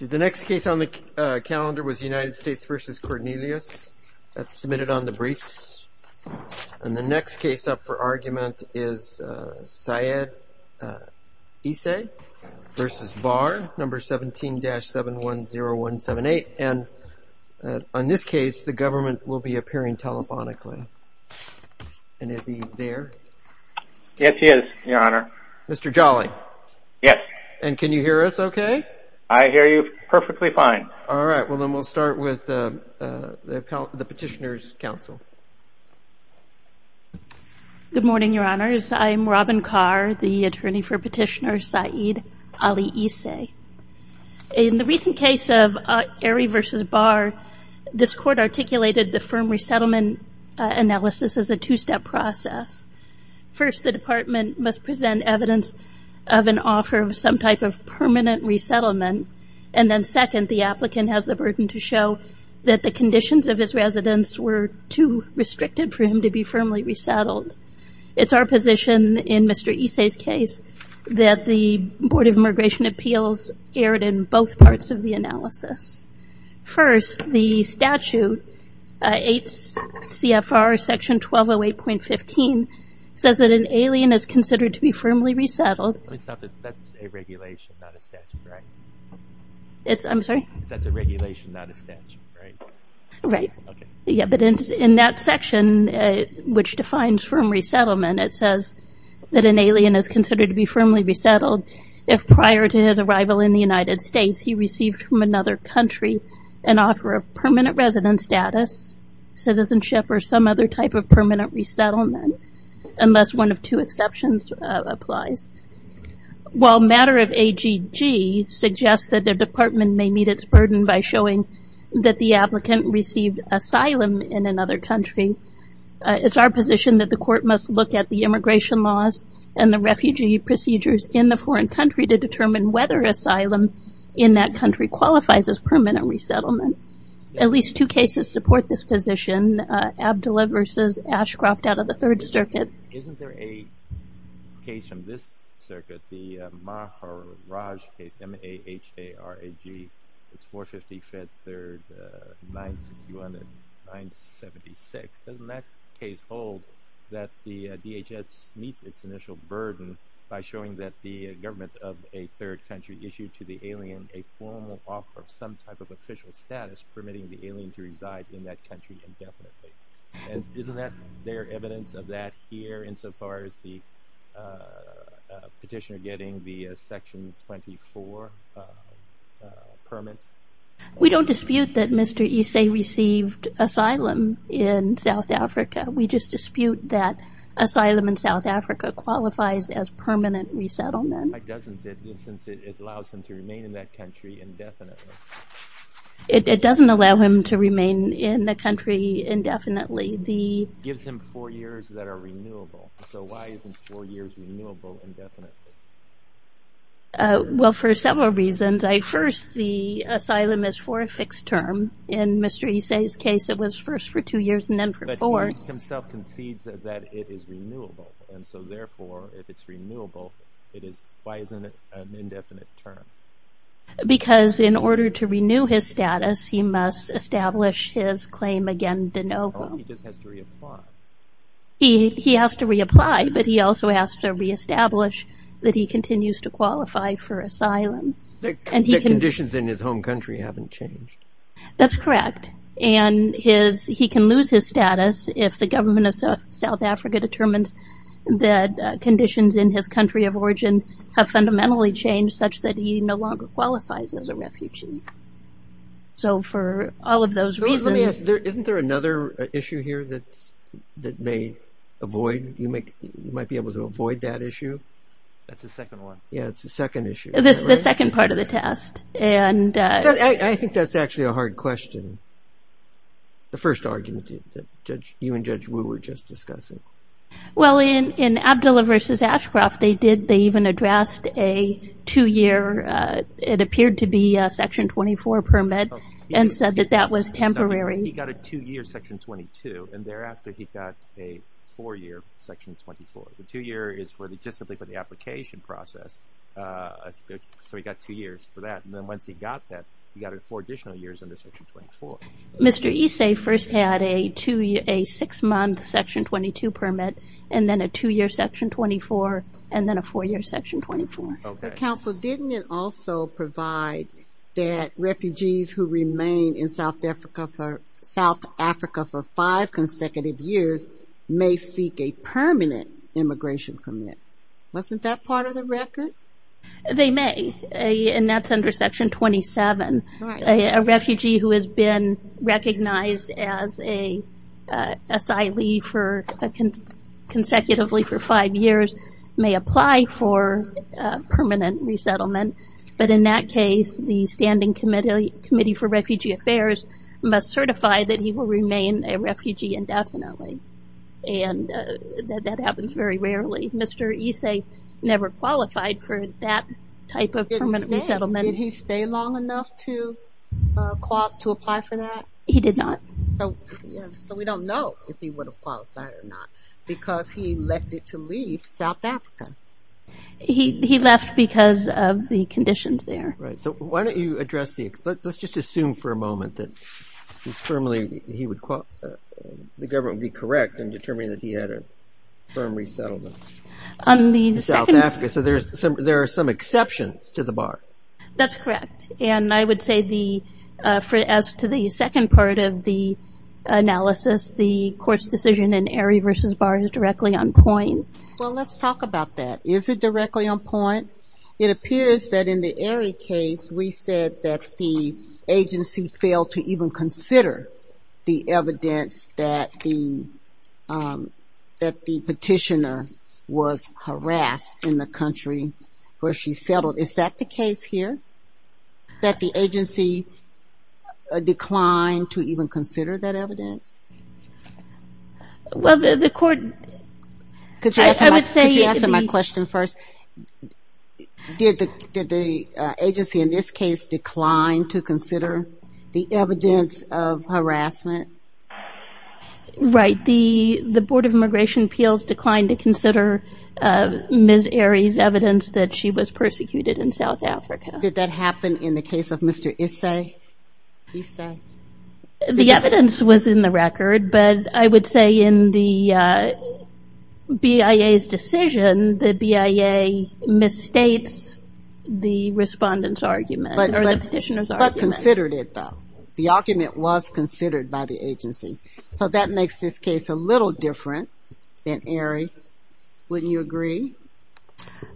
The next case on the calendar was United States v. Cornelius. That's submitted on the briefs. And the next case up for argument is Syed Isse v. Barr, No. 17-710178. And on this case, the government will be appearing telephonically. And is he there? Yes, he is, Your Honor. Mr. Jolly? Yes. And can you hear us okay? I hear you perfectly fine. All right. Well, then we'll start with the Petitioner's Council. Good morning, Your Honors. I am Robin Carr, the attorney for Petitioner Syed Ali Isse. In the recent case of Airy v. Barr, this court articulated the firm resettlement analysis as a two-step process. First, the Department must present evidence of an offer of some type of permanent resettlement. And then second, the applicant has the burden to show that the conditions of his residence were too restricted for him to be firmly resettled. It's our position in Mr. Isse's case that the Board of Immigration Appeals erred in both parts of the analysis. First, the statute, 8 CFR Section 1208.15, says that an alien is considered to be firmly resettled. Let me stop it. That's a regulation, not a statute, right? I'm sorry? That's a regulation, not a statute, right? Right. Okay. Yeah, but in that section, which defines firm resettlement, it says that an alien is considered to be firmly resettled if prior to his arrival in the United States, he received from another country an offer of permanent resident status, citizenship, or some other type of permanent resettlement, unless one of two exceptions applies. While matter of AGG suggests that the Department may meet its burden by showing that the applicant received asylum in another country, it's our position that the court must look at the immigration laws and the refugee procedures in the foreign country to determine whether asylum in that country qualifies as permanent resettlement. At least two cases support this position, Abdullah v. Ashcroft out of the Third Circuit. Isn't there a case from this circuit, the Maharaj case, M-A-H-A-R-A-G, it's 450 Fed 3rd, 961 to 976. Doesn't that case hold that the DHS meets its initial burden by showing that the government of a third country issued to the alien a formal offer of some type of official status permitting the alien to reside in that country indefinitely? Isn't there evidence of that here insofar as the petitioner getting the section 24 permit? We don't dispute that Mr. Issei received asylum in South Africa. We just dispute that asylum in South Africa qualifies as permanent resettlement. Why doesn't it, since it allows him to remain in that country indefinitely? It doesn't allow him to remain in the country indefinitely. It gives him four years that are renewable. So why isn't four years renewable indefinitely? Well, for several reasons. First, the asylum is for a fixed term. In Mr. Issei's case, it was first for two years and then for four. But he himself concedes that it is renewable. And so therefore, if it's renewable, why isn't it an indefinite term? Because in order to renew his status, he must establish his claim again de novo. He just has to reapply. He has to reapply, but he also has to reestablish that he continues to qualify for asylum. The conditions in his home country haven't changed. That's correct. And he can lose his status if the government of South Africa determines that conditions in his country of origin have fundamentally changed such that he no longer qualifies as a refugee. So for all of those reasons... Isn't there another issue here that may avoid, you might be able to avoid that issue? That's the second one. Yeah, it's the second issue. The second part of the test. I think that's actually a hard question. The first argument that you and Judge Wu were just discussing. Well, in Abdullah v. Ashcroft, they even addressed a two-year, it appeared to be a Section 24 permit, and said that that was temporary. He got a two-year Section 22, and thereafter he got a four-year Section 24. The two-year is just simply for the application process. So he got two years for that, and then once he got that, he got four additional years under Section 24. Mr. Issei first had a six-month Section 22 permit, and then a two-year Section 24, and then a four-year Section 24. Counsel, didn't it also provide that refugees who remain in South Africa for five consecutive years may seek a permanent immigration permit? Wasn't that part of the record? They may, and that's under Section 27. A refugee who has been recognized as an asylee consecutively for five years may apply for permanent resettlement. But in that case, the Standing Committee for Refugee Affairs must certify that he will remain a refugee indefinitely, and that happens very rarely. Mr. Issei never qualified for that type of permanent resettlement. Did he stay long enough to apply for that? He did not. So we don't know if he would have qualified or not, because he elected to leave South Africa. He left because of the conditions there. Let's just assume for a moment that the government would be correct in determining that he had a permanent resettlement in South Africa. So there are some exceptions to the BAR. That's correct. And I would say as to the second part of the analysis, the court's decision in ERI versus BAR is directly on point. Well, let's talk about that. Is it directly on point? It appears that in the ERI case, we said that the agency failed to even consider the evidence that the petitioner was harassed in the country where she settled. Is that the case here, that the agency declined to even consider that evidence? Well, the court – Could you answer my question first? Did the agency in this case decline to consider the evidence of harassment? Right. The Board of Immigration Appeals declined to consider Ms. ERI's evidence that she was persecuted in South Africa. Did that happen in the case of Mr. Issei? The evidence was in the record, but I would say in the BIA's decision, the BIA misstates the respondent's argument or the petitioner's argument. But considered it, though. The argument was considered by the agency. So that makes this case a little different than ERI. Wouldn't you agree?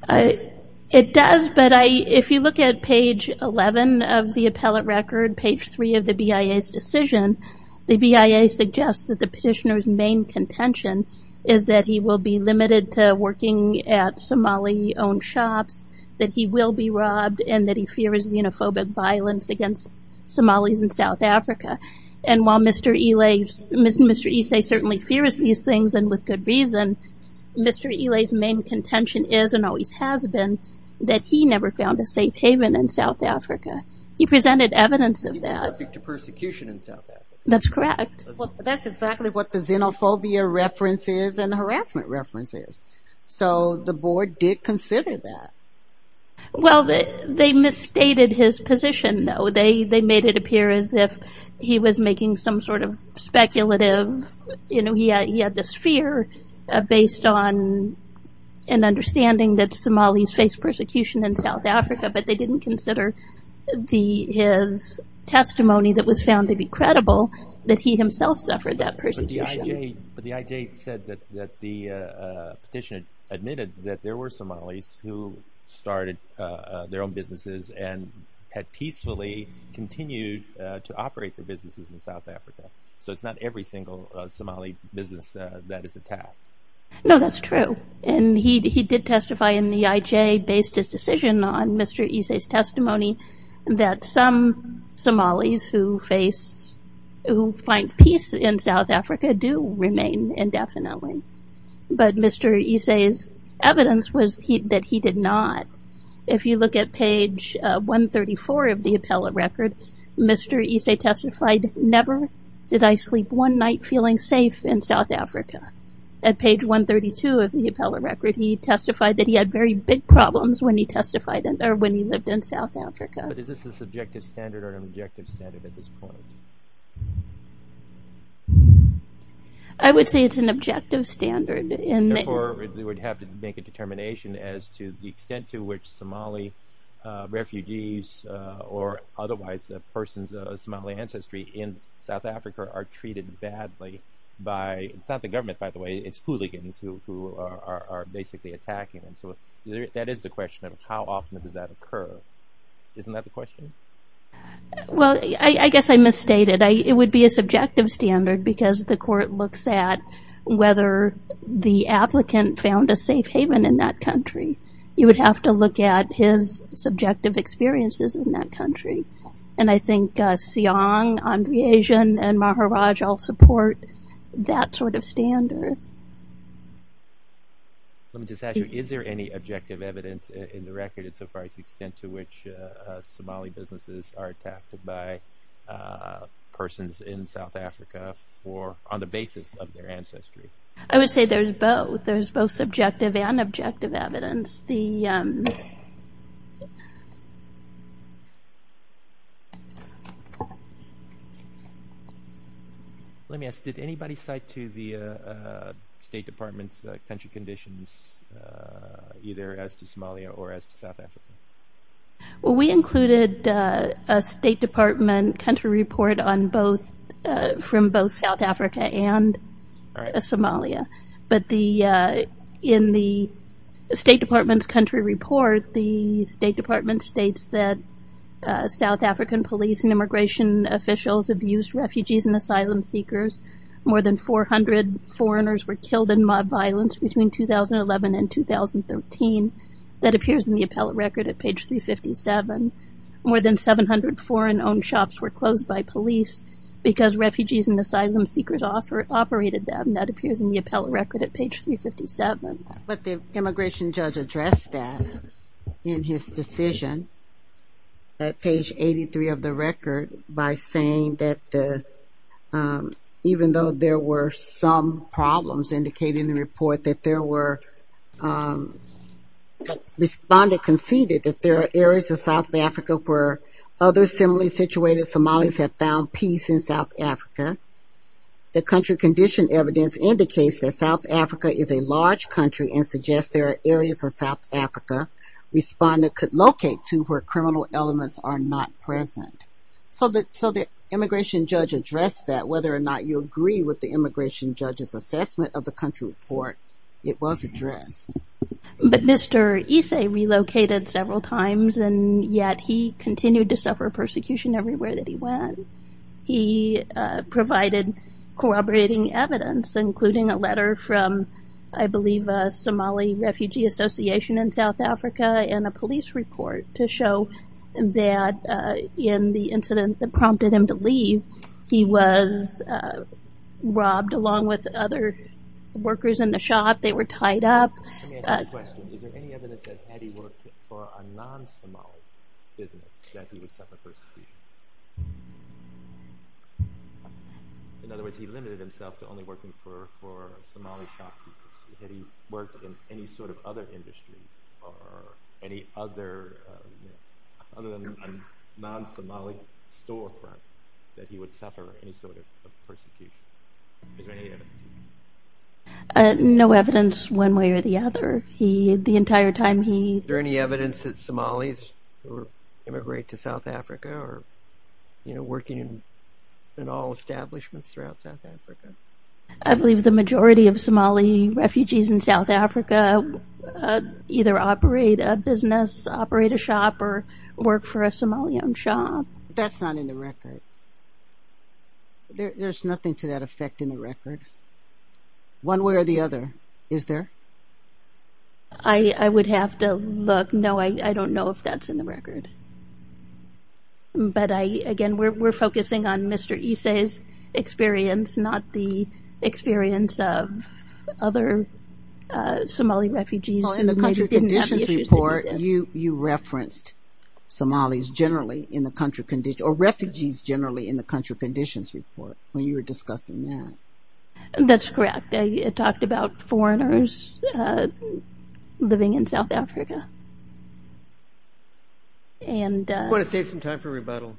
It does, but if you look at page 11 of the appellate record, page 3 of the BIA's decision, the BIA suggests that the petitioner's main contention is that he will be limited to working at Somali-owned shops, that he will be robbed, and that he fears xenophobic violence against Somalis in South Africa. And while Mr. Issei certainly fears these things, and with good reason, Mr. Ilei's main contention is, and always has been, that he never found a safe haven in South Africa. He presented evidence of that. He was subject to persecution in South Africa. That's correct. That's exactly what the xenophobia reference is and the harassment reference is. So the Board did consider that. Well, they misstated his position, though. They made it appear as if he was making some sort of speculative, you know, he had this fear based on an understanding that Somalis face persecution in South Africa, but they didn't consider his testimony that was found to be credible, that he himself suffered that persecution. But the IJ said that the petitioner admitted that there were Somalis who started their own businesses and had peacefully continued to operate their businesses in South Africa. So it's not every single Somali business that is attacked. No, that's true. And he did testify in the IJ, based his decision on Mr. Issei's testimony, that some Somalis who face, who find peace in South Africa do remain indefinitely. But Mr. Issei's evidence was that he did not. If you look at page 134 of the appellate record, Mr. Issei testified, never did I sleep one night feeling safe in South Africa. At page 132 of the appellate record, he testified that he had very big problems when he testified, or when he lived in South Africa. But is this a subjective standard or an objective standard at this point? I would say it's an objective standard. Therefore, we would have to make a determination as to the extent to which Somali refugees or otherwise persons of Somali ancestry in South Africa are treated badly by, it's not the government by the way, it's hooligans who are basically attacking them. So that is the question of how often does that occur. Isn't that the question? Well, I guess I misstated. It would be a subjective standard because the court looks at whether the applicant found a safe haven in that country. You would have to look at his subjective experiences in that country. And I think Siong, Andrejian, and Maharaj all support that sort of standard. Let me just ask you, is there any objective evidence in the record as far as the extent to which Somali businesses are attacked by persons in South Africa on the basis of their ancestry? I would say there's both. There's both subjective and objective evidence. Let me ask, did anybody cite to the State Department's country conditions either as to Somalia or as to South Africa? We included a State Department country report from both South Africa and Somalia. But in the State Department's country report, the State Department states that South African police and immigration officials abused refugees and asylum seekers. More than 400 foreigners were killed in mob violence between 2011 and 2013. That appears in the appellate record at page 357. More than 700 foreign-owned shops were closed by police because refugees and asylum seekers operated them. And that appears in the appellate record at page 357. But the immigration judge addressed that in his decision at page 83 of the record by saying that even though there were some problems indicated in the report, that there were, the respondent conceded that there are areas of South Africa where other similarly situated Somalis have found peace in South Africa. The country condition evidence indicates that South Africa is a large country and suggests there are areas of South Africa respondent could locate to where criminal elements are not present. So the immigration judge addressed that whether or not you agree with the immigration judge's assessment of the country report. It was addressed. But Mr. Issei relocated several times and yet he continued to suffer persecution everywhere that he went. He provided corroborating evidence including a letter from I believe a Somali refugee association in South Africa and a police report to show that in the incident that prompted him to leave, he was robbed along with other workers in the shop. They were tied up. Let me ask you a question. Is there any evidence that had he worked for a non-Somali business that he would suffer persecution? In other words, he limited himself to only working for Somali shopkeepers. Had he worked in any sort of other industry or any other other than a non-Somali storefront that he would suffer any sort of persecution? Is there any evidence? No evidence one way or the other. The entire time he... Is there any evidence that Somalis who immigrate to South Africa are working in all establishments throughout South Africa? I believe the majority of Somali refugees in South Africa either operate a business, operate a shop, or work for a Somali-owned shop. That's not in the record. There's nothing to that effect in the record. One way or the other, is there? I would have to look. No, I don't know if that's in the record. But again, we're focusing on Mr. Isay's experience, not the experience of other Somali refugees. Well, in the Country Conditions Report, you referenced Somalis generally in the Country Conditions... or refugees generally in the Country Conditions Report when you were discussing that. That's correct. I talked about foreigners living in South Africa. I'm going to save some time for rebuttal.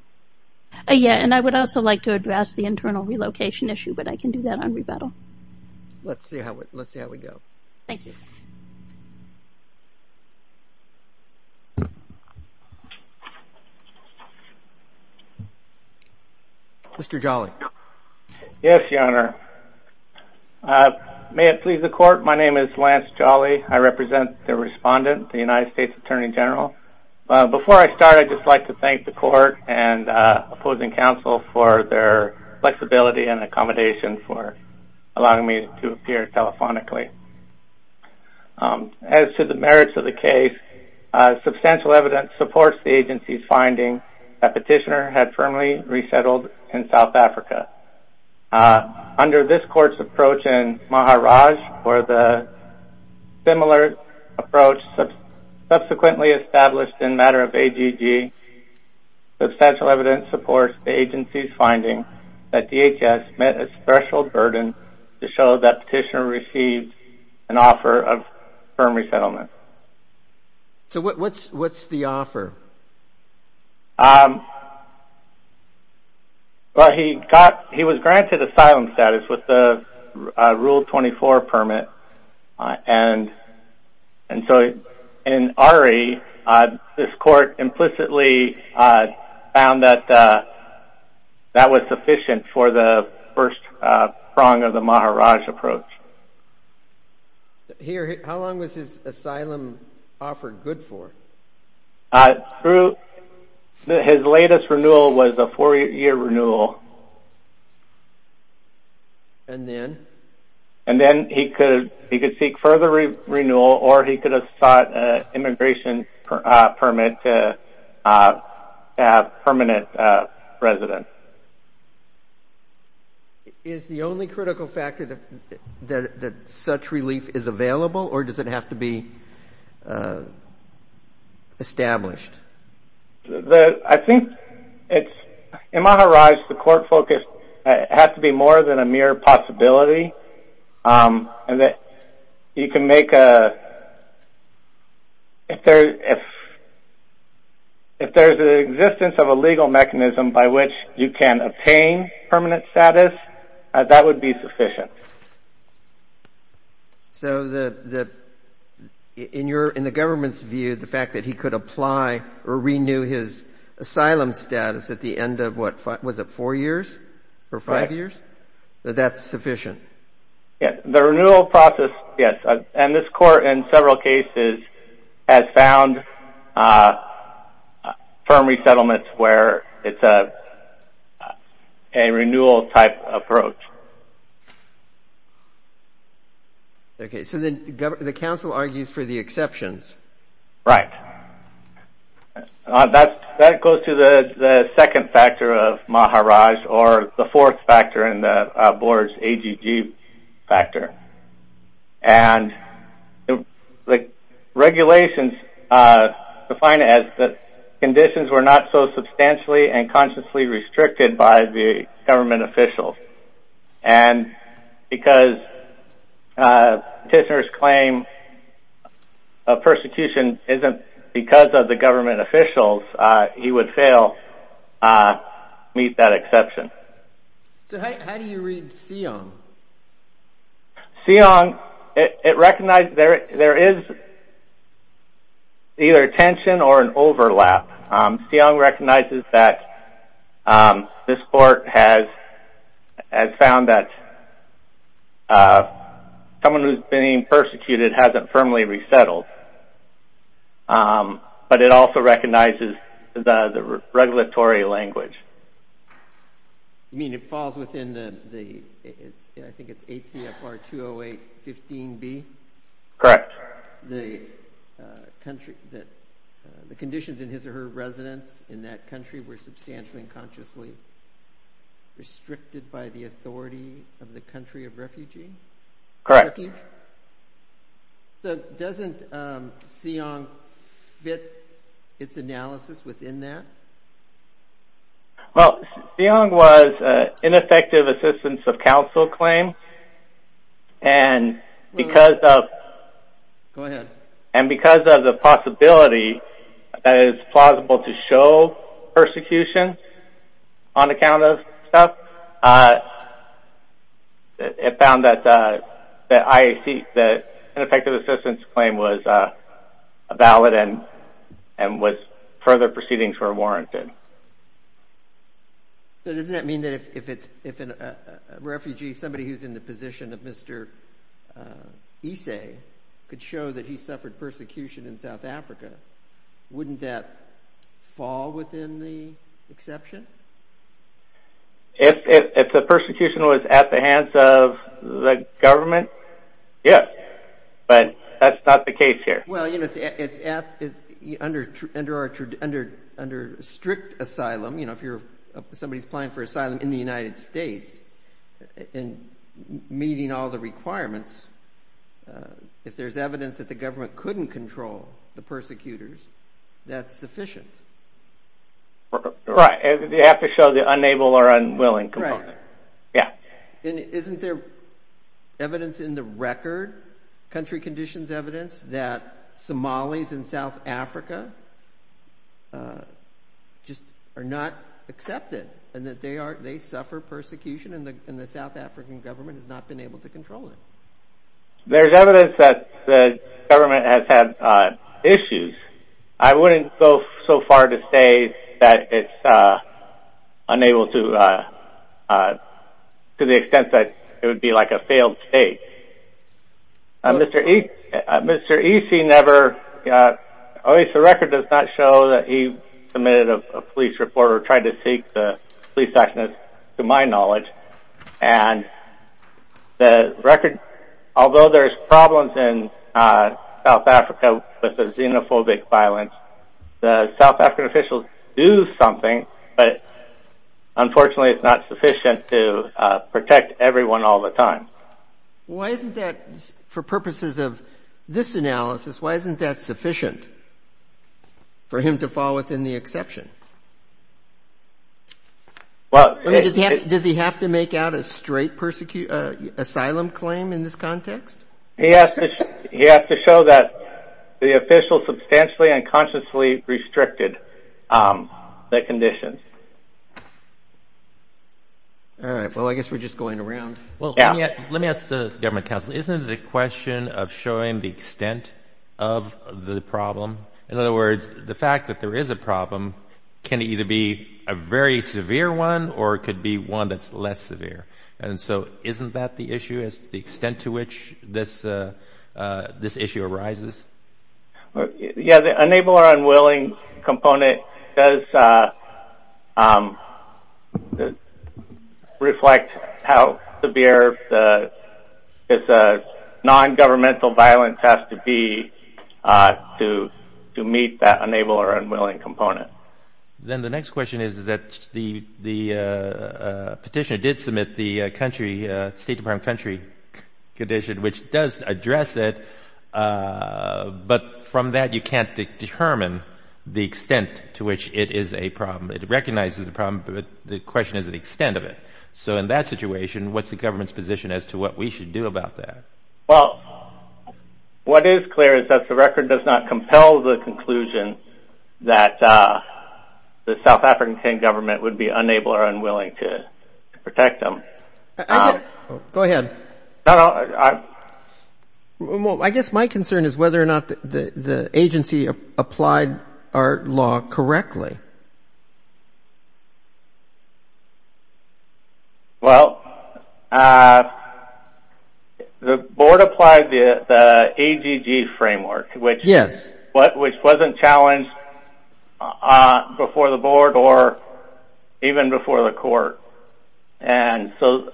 Yeah, and I would also like to address the internal relocation issue, but I can do that on rebuttal. Let's see how we go. Thank you. Mr. Jolly. Yes, Your Honor. May it please the Court, my name is Lance Jolly. I represent the respondent, the United States Attorney General. Before I start, I'd just like to thank the Court and opposing counsel for their flexibility and accommodation for allowing me to appear telephonically. As to the merits of the case, substantial evidence supports the agency's finding that Petitioner had firmly resettled in South Africa. Under this Court's approach in Maharaj, or the similar approach subsequently established in matter of AGG, substantial evidence supports the agency's finding that DHS met a threshold burden to show that Petitioner received an offer of firm resettlement. So what's the offer? Well, he was granted asylum status with the Rule 24 permit, and so in Ari, this Court implicitly found that that was sufficient for the first prong of the Maharaj approach. How long was his asylum offer good for? His latest renewal was a four-year renewal. And then? And then he could seek further renewal, or he could have sought an immigration permit to have permanent residence. Is the only critical factor that such relief is available, or does it have to be established? I think it's – in Maharaj, the Court focused that it has to be more than a mere possibility, and that you can make a – if there's an existence of a legal mechanism by which you can obtain permanent status, that would be sufficient. So the – in the government's view, the fact that he could apply or renew his asylum status at the end of, what, was it four years or five years, that that's sufficient? Yes, the renewal process, yes, and this Court in several cases has found firm resettlements where it's a renewal-type approach. Okay, so the Council argues for the exceptions. Right. That goes to the second factor of Maharaj, or the fourth factor in the Board's AGG factor. And the regulations define it as the conditions were not so substantially and consciously restricted by the government officials. And because petitioner's claim of persecution isn't because of the government officials, he would fail to meet that exception. So how do you read Seong? Seong – it recognizes – there is either a tension or an overlap. Seong recognizes that this Court has found that someone who's being persecuted hasn't firmly resettled, but it also recognizes the regulatory language. You mean it falls within the – I think it's ACFR 208.15b? Correct. The country – the conditions in his or her residence in that country were substantially and consciously restricted by the authority of the country of refugee? Correct. So doesn't Seong fit its analysis within that? Well, Seong was ineffective assistance of Council claim. And because of – Go ahead. It found that IAC – that ineffective assistance claim was valid and was – further proceedings were warranted. So doesn't that mean that if it's – if a refugee, somebody who's in the position of Mr. Ise, could show that he suffered persecution in South Africa, wouldn't that fall within the exception? If the persecution was at the hands of the government, yes. But that's not the case here. Well, you know, it's under strict asylum. You know, if you're – somebody's applying for asylum in the United States and meeting all the requirements, if there's evidence that the government couldn't control the persecutors, that's sufficient. Right. You have to show the unable or unwilling component. Right. Yeah. And isn't there evidence in the record, country conditions evidence, that Somalis in South Africa just are not accepted and that they are – they suffer persecution and the South African government has not been able to control it? There's evidence that the government has had issues. I wouldn't go so far to say that it's unable to – to the extent that it would be like a failed state. Mr. Ise never – at least the record does not show that he submitted a police report or tried to seek the police action, to my knowledge. And the record – although there's problems in South Africa with the xenophobic violence, the South African officials do something, but unfortunately it's not sufficient to protect everyone all the time. Why isn't that – for purposes of this analysis, why isn't that sufficient for him to fall within the exception? Well – I mean, does he have to make out a straight asylum claim in this context? He has to show that the official substantially and consciously restricted the conditions. All right. Well, I guess we're just going around. Well, let me ask the government counsel, isn't it a question of showing the extent of the problem? In other words, the fact that there is a problem can either be a very severe one or it could be one that's less severe. And so isn't that the issue is the extent to which this issue arises? Yeah, the unable or unwilling component does reflect how severe the non-governmental violence has to be to meet that unable or unwilling component. Then the next question is that the petitioner did submit the State Department country condition, which does address it, but from that you can't determine the extent to which it is a problem. It recognizes the problem, but the question is the extent of it. So in that situation, what's the government's position as to what we should do about that? Well, what is clear is that the record does not compel the conclusion that the South African government would be unable or unwilling to protect them. Go ahead. I guess my concern is whether or not the agency applied our law correctly. Well, the board applied the ADG framework, which wasn't challenged before the board or even before the court. And so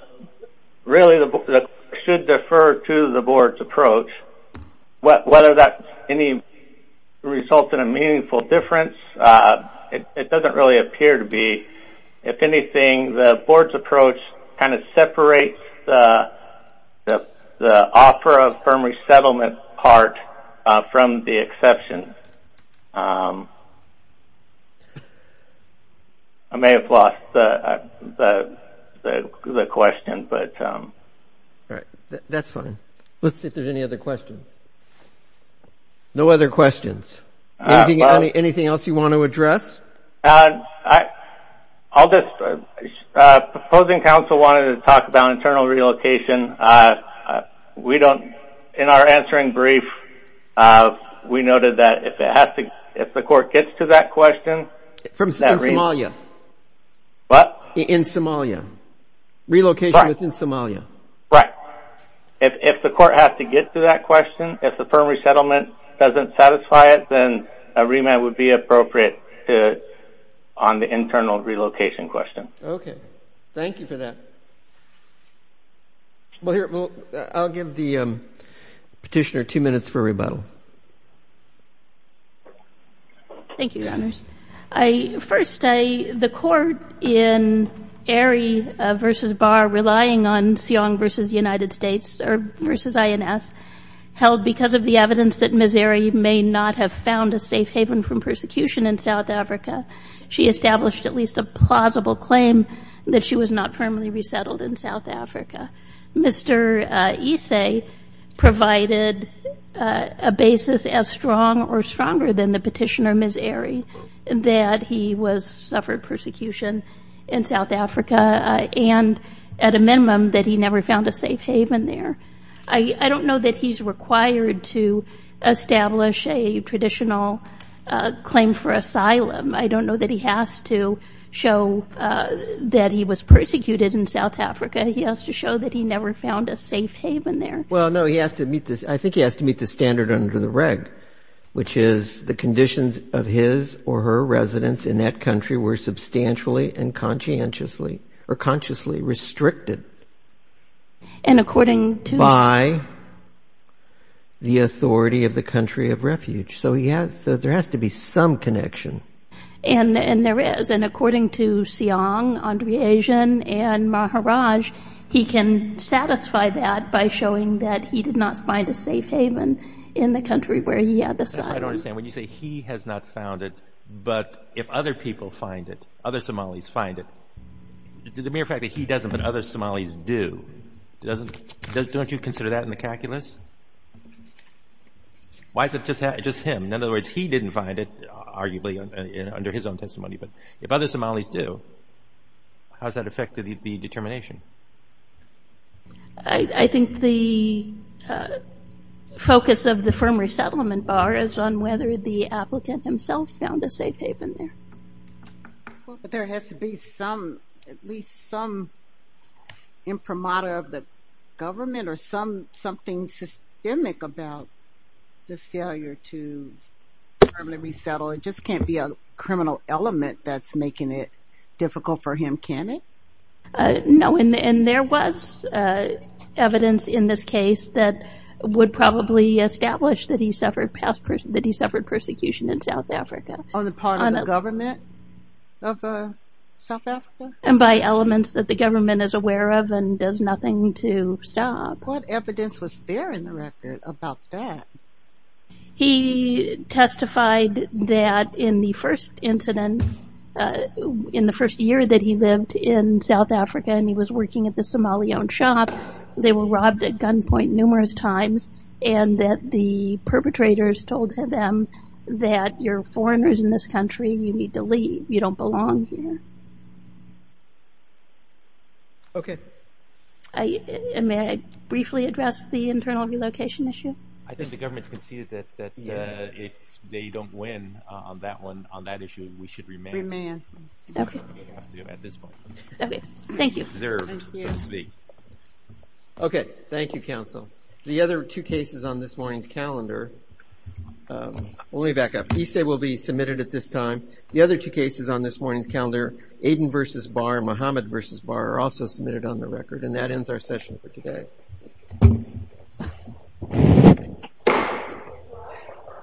really the court should defer to the board's approach. Whether that results in a meaningful difference, it doesn't really appear to be. If anything, the board's approach kind of separates the offer of firm resettlement part from the exception. I may have lost the question, but... All right. That's fine. Let's see if there's any other questions. No other questions. Anything else you want to address? Proposing counsel wanted to talk about internal relocation. In our answering brief, we noted that if the court gets to that question... In Somalia. What? In Somalia. Relocation within Somalia. Right. If the court has to get to that question, if the firm resettlement doesn't satisfy it, then a remand would be appropriate on the internal relocation question. Okay. Thank you for that. I'll give the petitioner two minutes for rebuttal. Thank you, Your Honors. First, the court in Arey v. Barr relying on Siong v. United States, or v. INS, held because of the evidence that Ms. Arey may not have found a safe haven from persecution in South Africa, she established at least a plausible claim that she was not firmly resettled in South Africa. Mr. Isse provided a basis as strong or stronger than the petitioner, Ms. Arey, that he suffered persecution in South Africa and, at a minimum, that he never found a safe haven there. I don't know that he's required to establish a traditional claim for asylum. I don't know that he has to show that he was persecuted in South Africa. He has to show that he never found a safe haven there. Well, no, I think he has to meet the standard under the reg, which is the conditions of his or her residence in that country were substantially and consciously restricted. By the authority of the country of refuge. So there has to be some connection. And there is. And according to Siong, Andre Asian, and Maharaj, he can satisfy that by showing that he did not find a safe haven in the country where he had asylum. I don't understand. When you say he has not found it, but if other people find it, other Somalis find it, the mere fact that he doesn't, but other Somalis do, don't you consider that in the calculus? Why is it just him? In other words, he didn't find it, arguably, under his own testimony. But if other Somalis do, how does that affect the determination? I think the focus of the firm resettlement bar is on whether the applicant himself found a safe haven there. But there has to be at least some imprimatur of the government or something systemic about the failure to permanently resettle. It just can't be a criminal element that's making it difficult for him, can it? No, and there was evidence in this case that would probably establish that he suffered persecution in South Africa. On the part of the government of South Africa? And by elements that the government is aware of and does nothing to stop. What evidence was there in the record about that? He testified that in the first incident, in the first year that he lived in South Africa and he was working at the Somali-owned shop, they were robbed at gunpoint numerous times and that the perpetrators told them that you're foreigners in this country, you need to leave. You don't belong here. Okay. May I briefly address the internal relocation issue? I think the government's conceded that if they don't win on that issue, we should remain. Remain. Okay, thank you. Okay, thank you, counsel. The other two cases on this morning's calendar, let me back up. ESA will be submitted at this time. The other two cases on this morning's calendar, Aiden v. Barr, Mohammed v. Barr, are also submitted on the record, and that ends our session for today.